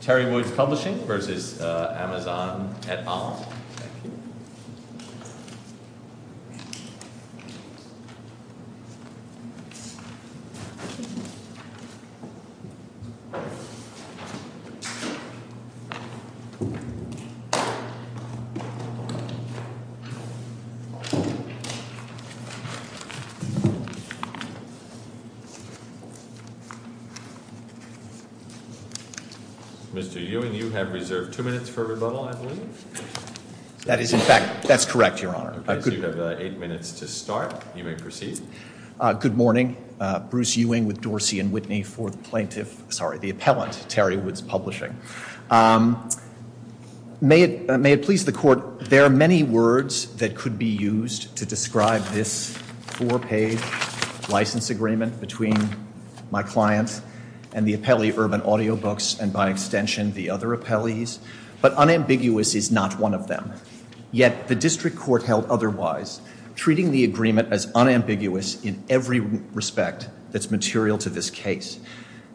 Teri Woods Publishing v. Amazon, Inc. Mr. Ewing, you have reserved two minutes for rebuttal, I believe. That is, in fact, that's correct, Your Honor. You have eight minutes to start. You may proceed. Good morning. Bruce Ewing with Dorsey & Whitney for the plaintiff, sorry, the appellant, Teri Woods Publishing. May it please the Court, there are many words that could be used to describe this four-page license agreement between my client and the appellee Urban Audiobooks and, by extension, the other appellees, but unambiguous is not one of them. Yet the district court held otherwise, treating the agreement as unambiguous in every respect that's material to this case.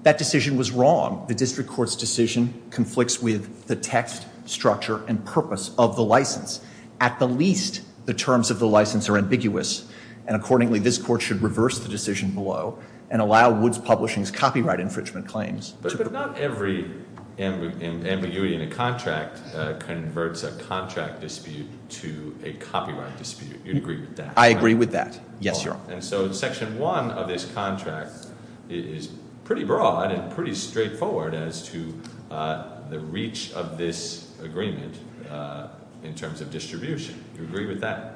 That decision was wrong. The district court's decision conflicts with the text, structure, and purpose of the license. At the least, the terms of the license are ambiguous, and accordingly, this court should reverse the decision below and allow Woods Publishing's copyright infringement claims to the court. But not every ambiguity in a contract converts a contract dispute to a copyright dispute. You'd agree with that? I agree with that. Yes, Your Honor. And so Section 1 of this contract is pretty broad and pretty straightforward as to the reach of this agreement in terms of distribution. You agree with that?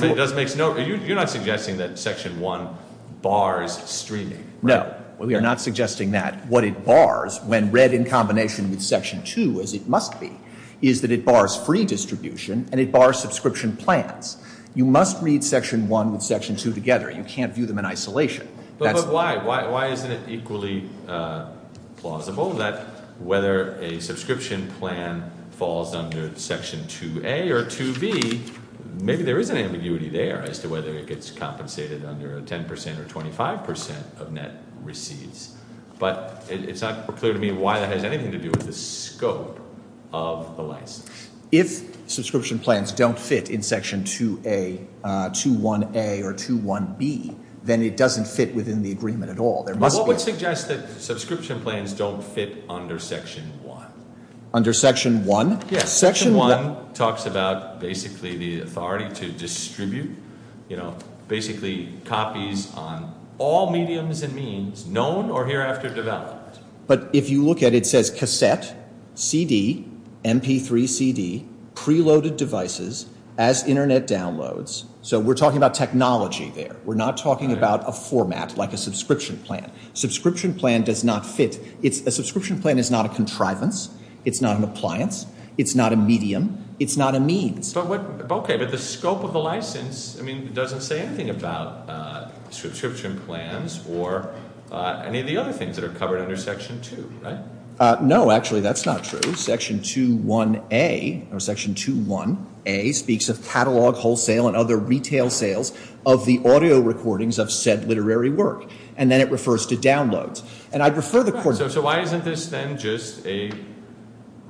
You're not suggesting that Section 1 bars streaming? No, we are not suggesting that. What it bars, when read in combination with Section 2, as it must be, is that it bars free distribution and it bars subscription plans. You must read Section 1 with Section 2 together. You can't view them in isolation. But why? Why isn't it equally plausible that whether a subscription plan falls under Section 2a or 2b, maybe there is an ambiguity there as to whether it gets compensated under 10% or 25% of net receipts. But it's not clear to me why that has anything to do with the scope of the license. If subscription plans don't fit in Section 2a, 2a or 2b, then it doesn't fit within the agreement at all. But what would suggest that subscription plans don't fit under Section 1? Under Section 1? Yes, Section 1 talks about basically the authority to distribute, you know, basically copies on all mediums and means, known or hereafter developed. But if you look at it, it says cassette, CD, MP3 CD, preloaded devices, as Internet downloads. So we're talking about technology there. We're not talking about a format like a subscription plan. Subscription plan does not fit. A subscription plan is not a contrivance. It's not an appliance. It's not a medium. It's not a means. But the scope of the license, I mean, doesn't say anything about subscription plans or any of the other things that are covered under Section 2, right? No, actually, that's not true. Section 2a speaks of catalog, wholesale and other retail sales of the audio recordings of said literary work. And then it refers to downloads. So why isn't this then just a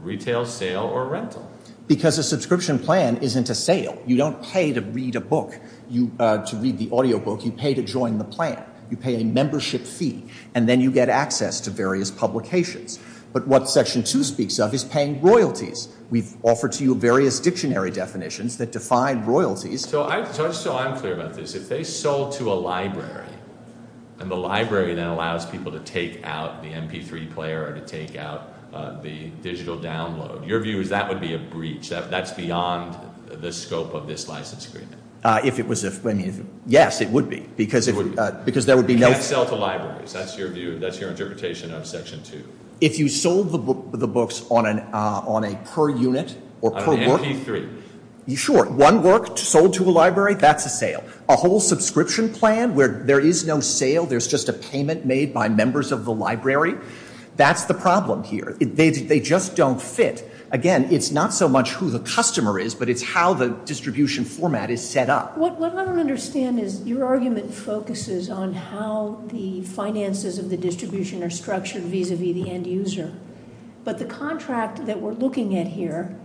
retail sale or rental? Because a subscription plan isn't a sale. You don't pay to read a book, to read the audio book. You pay to join the plan. You pay a membership fee, and then you get access to various publications. But what Section 2 speaks of is paying royalties. We've offered to you various dictionary definitions that define royalties. So I'm clear about this. If they sold to a library and the library then allows people to take out the MP3 player or to take out the digital download, your view is that would be a breach. That's beyond the scope of this license agreement. If it was a, I mean, yes, it would be, because there would be no- You can't sell to libraries. That's your view. That's your interpretation of Section 2. If you sold the books on a per unit or per work- On an MP3. Sure. One work sold to a library, that's a sale. A whole subscription plan where there is no sale, there's just a payment made by members of the library, that's the problem here. They just don't fit. Again, it's not so much who the customer is, but it's how the distribution format is set up. What I don't understand is your argument focuses on how the finances of the distribution are structured vis-à-vis the end user. But the contract that we're looking at here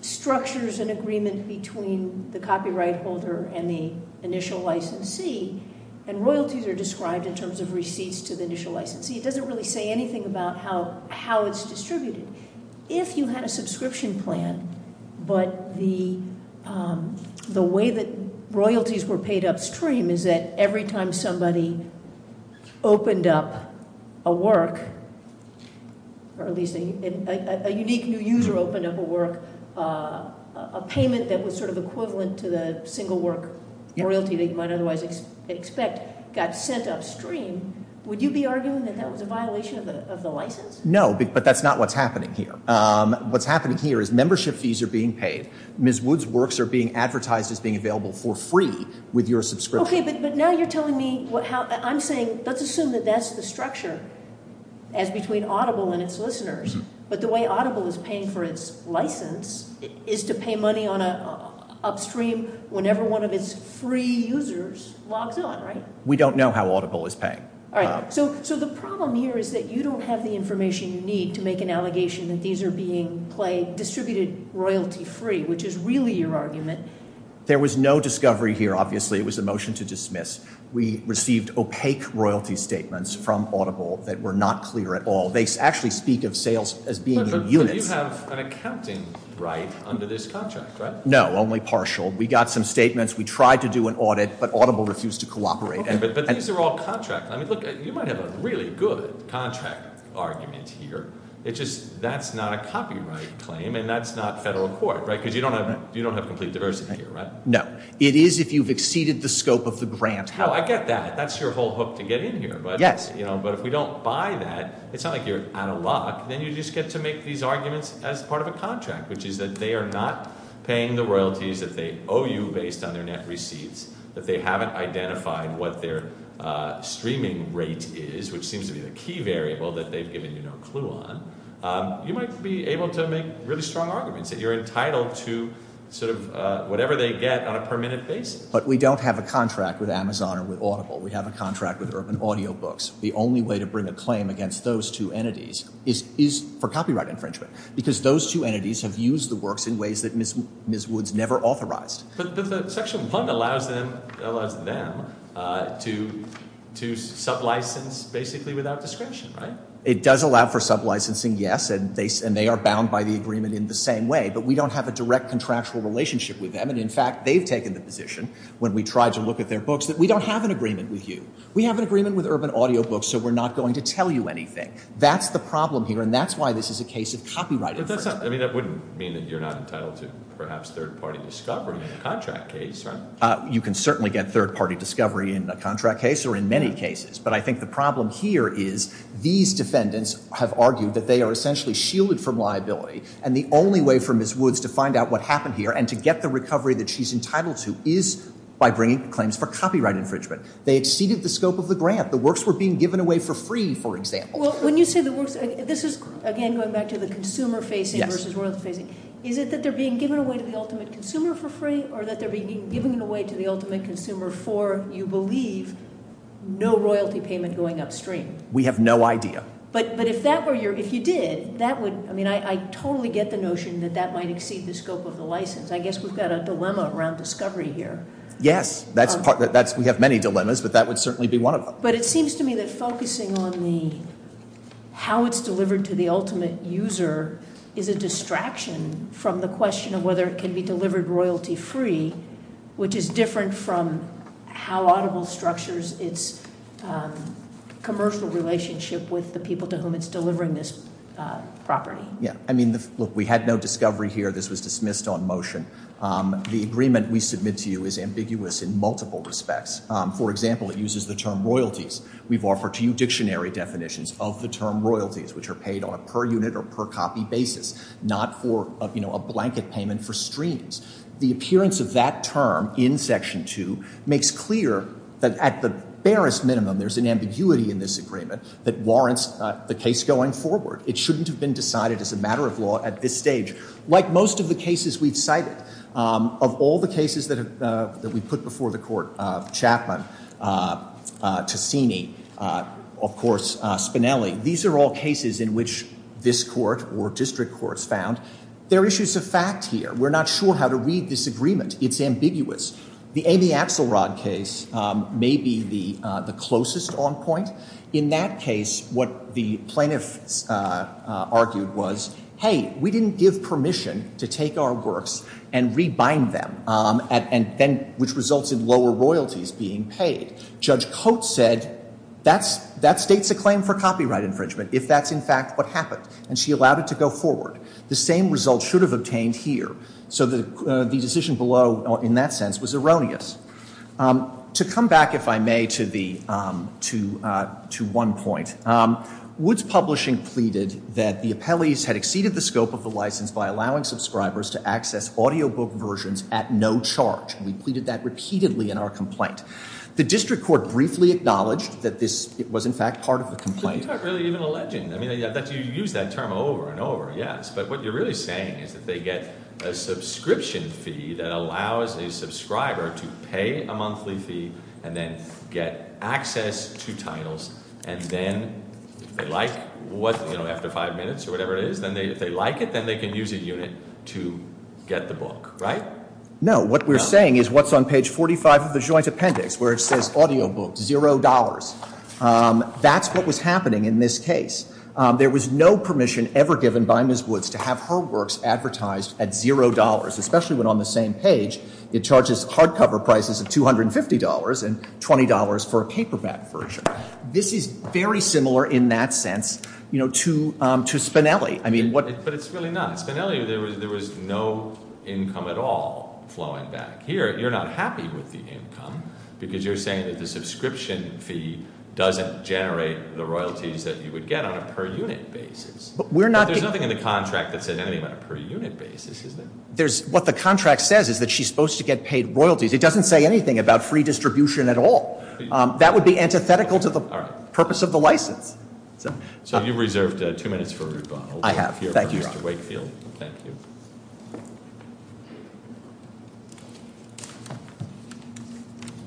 structures an agreement between the copyright holder and the initial licensee, and royalties are described in terms of receipts to the initial licensee. It doesn't really say anything about how it's distributed. If you had a subscription plan, but the way that royalties were paid upstream is that every time somebody opened up a work, or at least a unique new user opened up a work, a payment that was sort of equivalent to the single work royalty that you might otherwise expect, got sent upstream, would you be arguing that that was a violation of the license? No, but that's not what's happening here. What's happening here is membership fees are being paid. Ms. Wood's works are being advertised as being available for free with your subscription. Okay, but now you're telling me, I'm saying let's assume that that's the structure as between Audible and its listeners. But the way Audible is paying for its license is to pay money upstream whenever one of its free users logs on, right? We don't know how Audible is paying. All right, so the problem here is that you don't have the information you need to make an allegation that these are being distributed royalty free, which is really your argument. There was no discovery here, obviously. It was a motion to dismiss. We received opaque royalty statements from Audible that were not clear at all. They actually speak of sales as being in units. But you have an accounting right under this contract, right? No, only partial. We got some statements. We tried to do an audit, but Audible refused to cooperate. But these are all contract. I mean, look, you might have a really good contract argument here. It's just that's not a copyright claim, and that's not federal court, right, because you don't have complete diversity here, right? No. It is if you've exceeded the scope of the grant. No, I get that. That's your whole hook to get in here. Yes. But if we don't buy that, it's not like you're out of luck. Then you just get to make these arguments as part of a contract, which is that they are not paying the royalties that they owe you based on their net receipts, that they haven't identified what their streaming rate is, which seems to be the key variable that they've given you no clue on. You might be able to make really strong arguments that you're entitled to sort of whatever they get on a per-minute basis. But we don't have a contract with Amazon or with Audible. We have a contract with Urban Audiobooks. The only way to bring a claim against those two entities is for copyright infringement because those two entities have used the works in ways that Ms. Woods never authorized. But Section 1 allows them to sublicense basically without discretion, right? It does allow for sublicensing, yes, and they are bound by the agreement in the same way. But we don't have a direct contractual relationship with them. And in fact, they've taken the position when we tried to look at their books that we don't have an agreement with you. We have an agreement with Urban Audiobooks, so we're not going to tell you anything. That's the problem here, and that's why this is a case of copyright infringement. I mean, that wouldn't mean that you're not entitled to perhaps third-party discovery in a contract case, right? You can certainly get third-party discovery in a contract case or in many cases. But I think the problem here is these defendants have argued that they are essentially shielded from liability. And the only way for Ms. Woods to find out what happened here and to get the recovery that she's entitled to is by bringing claims for copyright infringement. They exceeded the scope of the grant. The works were being given away for free, for example. Well, when you say the works, this is, again, going back to the consumer-facing versus royalty-facing. Is it that they're being given away to the ultimate consumer for free or that they're being given away to the ultimate consumer for, you believe, no royalty payment going upstream? We have no idea. But if that were your – if you did, that would – I mean, I totally get the notion that that might exceed the scope of the license. I guess we've got a dilemma around discovery here. Yes, that's – we have many dilemmas, but that would certainly be one of them. But it seems to me that focusing on the – how it's delivered to the ultimate user is a distraction from the question of whether it can be delivered royalty-free, which is different from how Audible structures its commercial relationship with the people to whom it's delivering this property. Yes. I mean, look, we had no discovery here. This was dismissed on motion. The agreement we submit to you is ambiguous in multiple respects. For example, it uses the term royalties. We've offered to you dictionary definitions of the term royalties, which are paid on a per-unit or per-copy basis, not for a blanket payment for streams. The appearance of that term in Section 2 makes clear that at the barest minimum there's an ambiguity in this agreement that warrants the case going forward. It shouldn't have been decided as a matter of law at this stage. Like most of the cases we've cited, of all the cases that we've put before the Court of Chapman, Ticini, of course Spinelli, these are all cases in which this Court or district courts found there are issues of fact here. We're not sure how to read this agreement. It's ambiguous. The Amy Axelrod case may be the closest on point. In that case, what the plaintiffs argued was, hey, we didn't give permission to take our works and rebind them, which resulted in lower royalties being paid. Judge Coates said that states a claim for copyright infringement if that's in fact what happened, and she allowed it to go forward. The same result should have obtained here. So the decision below in that sense was erroneous. To come back, if I may, to one point, Woods Publishing pleaded that the appellees had exceeded the scope of the license by allowing subscribers to access audiobook versions at no charge. We pleaded that repeatedly in our complaint. The district court briefly acknowledged that this was in fact part of the complaint. No, you're not really even alleging. I mean, I bet you use that term over and over, yes. But what you're really saying is that they get a subscription fee that allows a subscriber to pay a monthly fee and then get access to titles, and then if they like what, you know, after five minutes or whatever it is, then if they like it, then they can use a unit to get the book, right? No. What we're saying is what's on page 45 of the joint appendix where it says audiobook, $0. That's what was happening in this case. There was no permission ever given by Ms. Woods to have her works advertised at $0, especially when on the same page it charges hardcover prices of $250 and $20 for a paperback version. This is very similar in that sense, you know, to Spinelli. But it's really not. Spinelli, there was no income at all flowing back. Here, you're not happy with the income because you're saying that the subscription fee doesn't generate the royalties that you would get on a per unit basis. But there's nothing in the contract that said anything about a per unit basis, is there? What the contract says is that she's supposed to get paid royalties. It doesn't say anything about free distribution at all. That would be antithetical to the purpose of the license. So you've reserved two minutes for a rebuttal. I have. Thank you. Thank you, Mr. Wakefield. Thank you.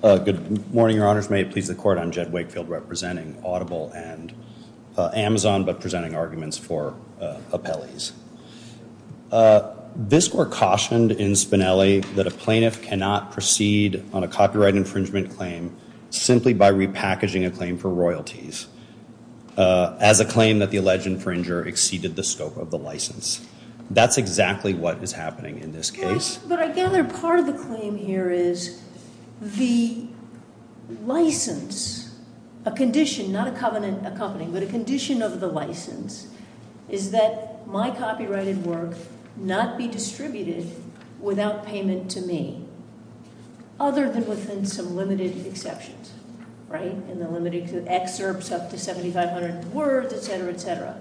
Good morning, your honors. May it please the court. I'm Jed Wakefield representing Audible and Amazon, but presenting arguments for appellees. This court cautioned in Spinelli that a plaintiff cannot proceed on a copyright infringement claim simply by repackaging a claim for royalties as a claim that the alleged infringer exceeded the scope of the license. That's exactly what is happening in this case. But I gather part of the claim here is the license, a condition, not a covenant accompanying, but a condition of the license, is that my copyrighted work not be distributed without payment to me, other than within some limited exceptions. And they're limited to excerpts up to 7,500 words, et cetera, et cetera.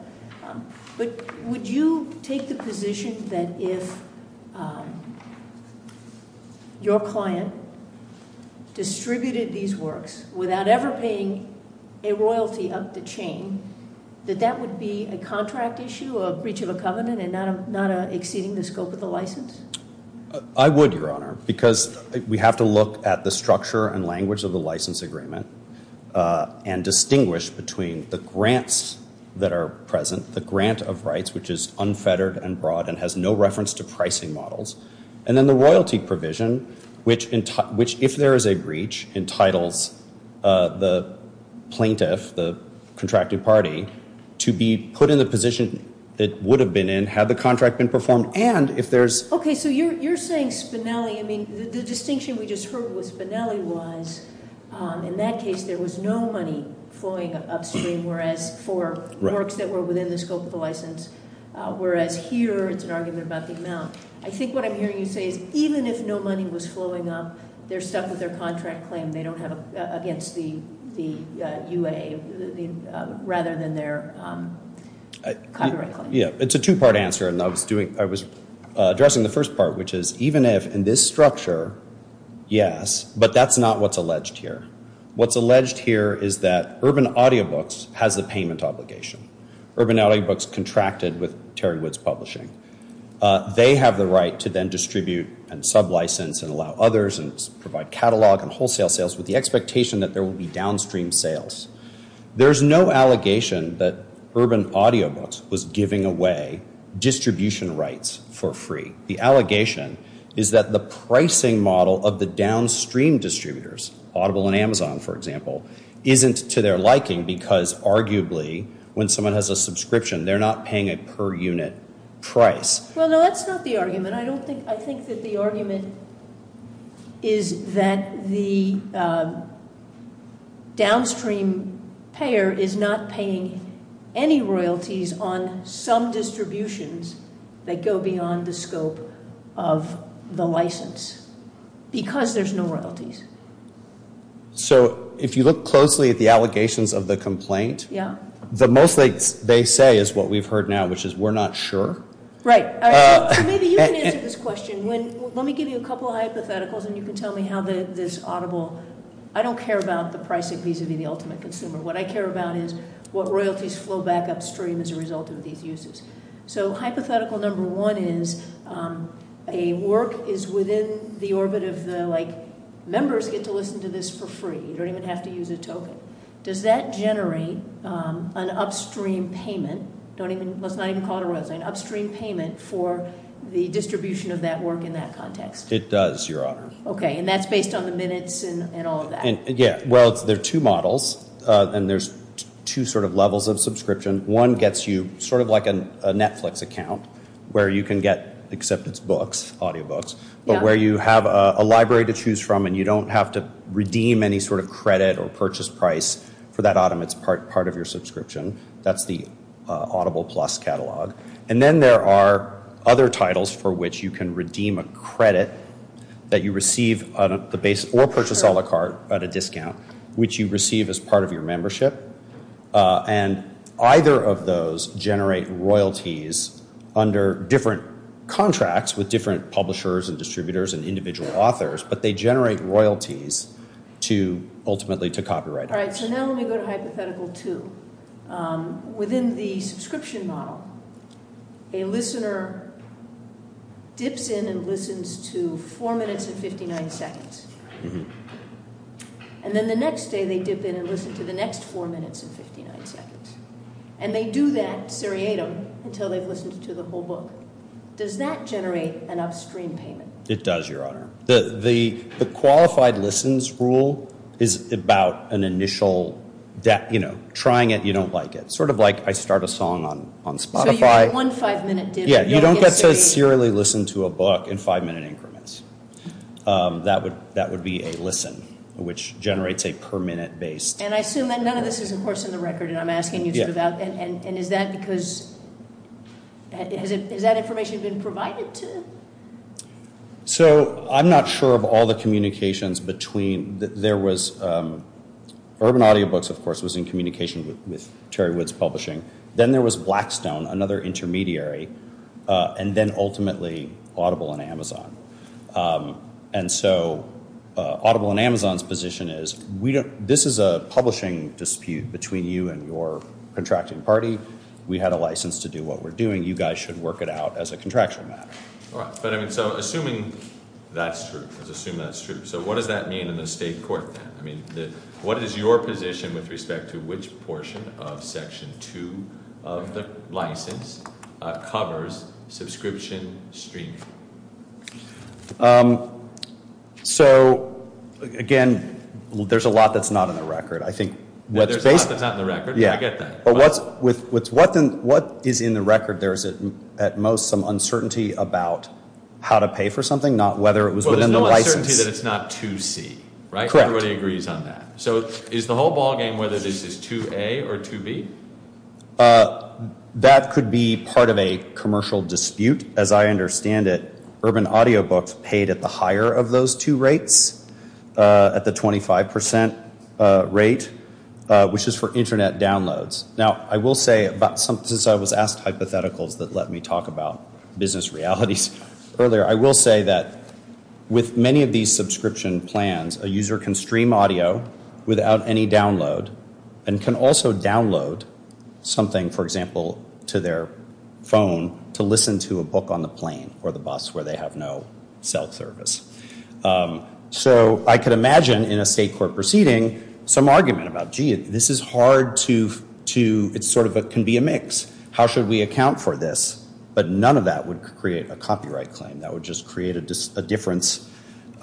But would you take the position that if your client distributed these works without ever paying a royalty of the chain, that that would be a contract issue, a breach of a covenant, and not exceeding the scope of the license? I would, your honor. Because we have to look at the structure and language of the license agreement and distinguish between the grants that are present, the grant of rights, which is unfettered and broad and has no reference to pricing models, and then the royalty provision, which if there is a breach, entitles the plaintiff, the contracted party, to be put in the position it would have been in had the contract been performed. Okay, so you're saying Spinelli, I mean, the distinction we just heard with Spinelli was in that case there was no money flowing upstream, whereas for works that were within the scope of the license, whereas here it's an argument about the amount. I think what I'm hearing you say is even if no money was flowing up, they're stuck with their contract claim. They don't have against the UA, rather than their copyright claim. Yeah, it's a two-part answer, and I was addressing the first part, which is even if in this structure, yes, but that's not what's alleged here. What's alleged here is that Urban Audiobooks has the payment obligation. Urban Audiobooks contracted with Terry Woods Publishing. They have the right to then distribute and sublicense and allow others and provide catalog and wholesale sales with the expectation that there will be downstream sales. There's no allegation that Urban Audiobooks was giving away distribution rights for free. The allegation is that the pricing model of the downstream distributors, Audible and Amazon, for example, isn't to their liking because arguably when someone has a subscription, they're not paying a per unit price. Well, no, that's not the argument. I think that the argument is that the downstream payer is not paying any royalties on some distributions that go beyond the scope of the license because there's no royalties. So if you look closely at the allegations of the complaint, the most they say is what we've heard now, which is we're not sure? Right. So maybe you can answer this question. Let me give you a couple of hypotheticals and you can tell me how this Audible, I don't care about the pricing piece of the ultimate consumer. What I care about is what royalties flow back upstream as a result of these uses. So hypothetical number one is a work is within the orbit of the members get to listen to this for free. You don't even have to use a token. Does that generate an upstream payment? Let's not even call it a royalties. An upstream payment for the distribution of that work in that context. It does, your honor. Okay. And that's based on the minutes and all of that. Yeah. Well, there are two models and there's two sort of levels of subscription. One gets you sort of like a Netflix account where you can get, except it's books, audio books. But where you have a library to choose from and you don't have to redeem any sort of credit or purchase price for that autumn. It's part of your subscription. That's the Audible Plus catalog. And then there are other titles for which you can redeem a credit that you receive at the base or purchase a la carte at a discount, which you receive as part of your membership. And either of those generate royalties under different contracts with different publishers and distributors and individual authors. But they generate royalties to ultimately to copyright. All right. So now let me go to hypothetical two. Within the subscription model, a listener dips in and listens to four minutes and 59 seconds. And then the next day they dip in and listen to the next four minutes and 59 seconds. And they do that seriatim until they've listened to the whole book. Does that generate an upstream payment? It does, Your Honor. The qualified listens rule is about an initial, you know, trying it, you don't like it. Sort of like I start a song on Spotify. So you get one five-minute dip. Yeah. You don't get to serially listen to a book in five-minute increments. That would be a listen, which generates a per-minute base. And I assume that none of this is, of course, in the record. And I'm asking you sort of that. And is that because has that information been provided to? So I'm not sure of all the communications between. There was Urban Audiobooks, of course, was in communication with Terry Woods Publishing. Then there was Blackstone, another intermediary. And then ultimately Audible and Amazon. And so Audible and Amazon's position is this is a publishing dispute between you and your contracting party. We had a license to do what we're doing. You guys should work it out as a contractual matter. All right. But, I mean, so assuming that's true. Let's assume that's true. So what does that mean in the state court then? I mean, what is your position with respect to which portion of Section 2 of the license covers subscription streaming? So, again, there's a lot that's not in the record. I think what's based. There's a lot that's not in the record. I get that. But what is in the record there? Is it at most some uncertainty about how to pay for something, not whether it was within the license? Well, there's no uncertainty that it's not 2C, right? Everybody agrees on that. So is the whole ballgame whether this is 2A or 2B? That could be part of a commercial dispute. As I understand it, Urban Audiobooks paid at the higher of those two rates, at the 25% rate, which is for Internet downloads. Now, I will say, since I was asked hypotheticals that let me talk about business realities earlier, I will say that with many of these subscription plans, a user can stream audio without any download and can also download something, for example, to their phone to listen to a book on the plane or the bus where they have no cell service. So I could imagine in a state court proceeding some argument about, gee, this is hard to, it's sort of, it can be a mix. How should we account for this? But none of that would create a copyright claim. That would just create a difference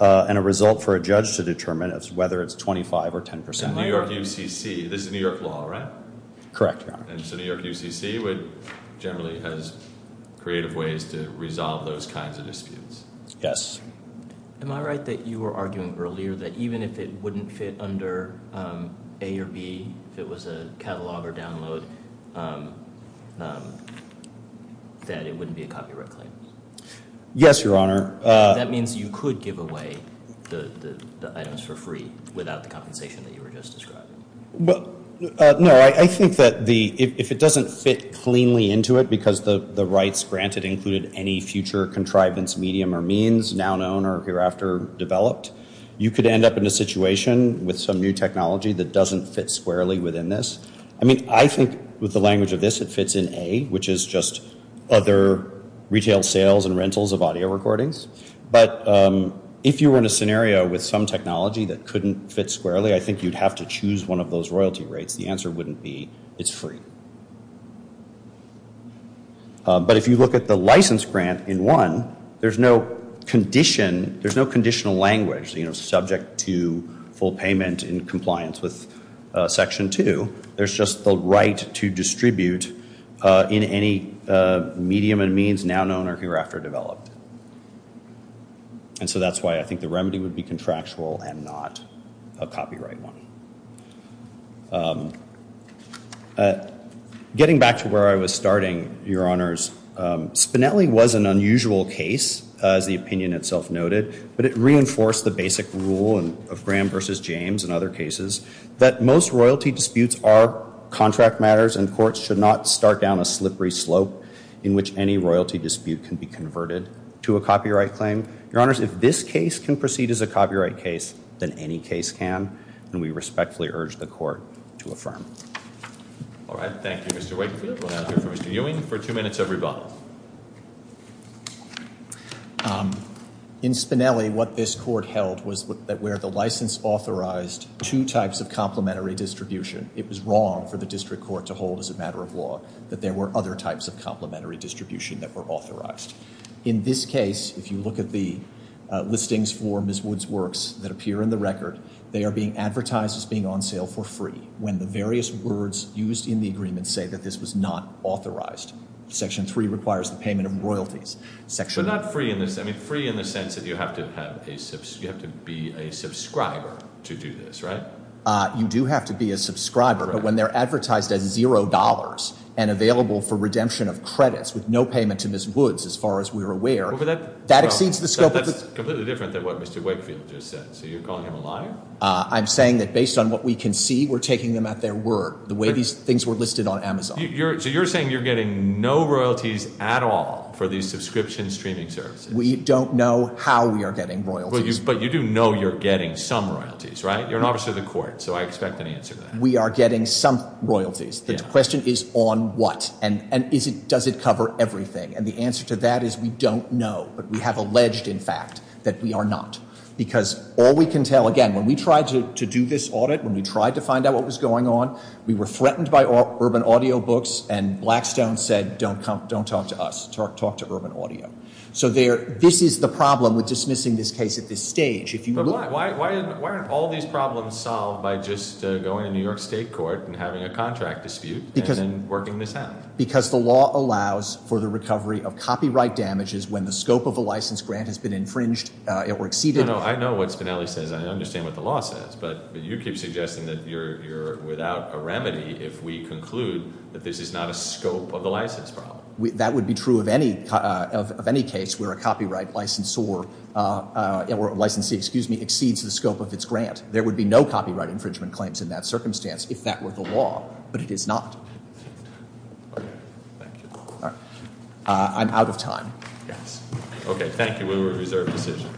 and a result for a judge to determine whether it's 25% or 10%. In New York UCC, this is New York law, right? Correct, Your Honor. And so New York UCC generally has creative ways to resolve those kinds of disputes. Yes. Am I right that you were arguing earlier that even if it wouldn't fit under A or B, if it was a catalog or download, that it wouldn't be a copyright claim? Yes, Your Honor. That means you could give away the items for free without the compensation that you were just describing. No, I think that if it doesn't fit cleanly into it because the rights granted included any future contrivance medium or means, now known or hereafter developed, you could end up in a situation with some new technology that doesn't fit squarely within this. I mean, I think with the language of this, it fits in A, which is just other retail sales and rentals of audio recordings. But if you were in a scenario with some technology that couldn't fit squarely, I think you'd have to choose one of those royalty rates. The answer wouldn't be it's free. But if you look at the license grant in 1, there's no condition, there's no conditional language, you know, subject to full payment in compliance with Section 2. There's just the right to distribute in any medium and means now known or hereafter developed. And so that's why I think the remedy would be contractual and not a copyright one. Getting back to where I was starting, Your Honors, Spinelli was an unusual case, as the opinion itself noted, but it reinforced the basic rule of Graham versus James and other cases, that most royalty disputes are contract matters and courts should not start down a slippery slope in which any royalty dispute can be converted to a copyright claim. Your Honors, if this case can proceed as a copyright case, then any case can, and we respectfully urge the court to affirm. All right. Thank you, Mr. Wakefield. We'll now hear from Mr. Ewing for two minutes of rebuttal. In Spinelli, what this court held was that where the license authorized two types of complementary distribution, it was wrong for the district court to hold as a matter of law that there were other types of complementary distribution that were authorized. In this case, if you look at the listings for Ms. Wood's works that appear in the record, they are being advertised as being on sale for free when the various words used in the agreement say that this was not authorized. Section 3 requires the payment of royalties. But not free in the sense that you have to be a subscriber to do this, right? You do have to be a subscriber. But when they're advertised as $0 and available for redemption of credits with no payment to Ms. Woods, as far as we're aware, that exceeds the scope. That's completely different than what Mr. Wakefield just said. So you're calling him a liar? I'm saying that based on what we can see, we're taking them at their word, the way these things were listed on Amazon. So you're saying you're getting no royalties at all for these subscription streaming services? We don't know how we are getting royalties. But you do know you're getting some royalties, right? You're an officer of the court, so I expect an answer to that. We are getting some royalties. The question is on what? And does it cover everything? And the answer to that is we don't know, but we have alleged, in fact, that we are not. Because all we can tell, again, when we tried to do this audit, when we tried to find out what was going on, we were threatened by Urban Audio Books, and Blackstone said, don't talk to us, talk to Urban Audio. So this is the problem with dismissing this case at this stage. But why aren't all these problems solved by just going to New York State court and having a contract dispute and then working this out? Because the law allows for the recovery of copyright damages when the scope of a license grant has been infringed or exceeded. No, no, I know what Spinelli says. I understand what the law says. But you keep suggesting that you're without a remedy if we conclude that this is not a scope of the license problem. That would be true of any case where a copyright license or a licensee, excuse me, exceeds the scope of its grant. There would be no copyright infringement claims in that circumstance if that were the law, but it is not. I'm out of time. Okay, thank you. We will reserve the decision.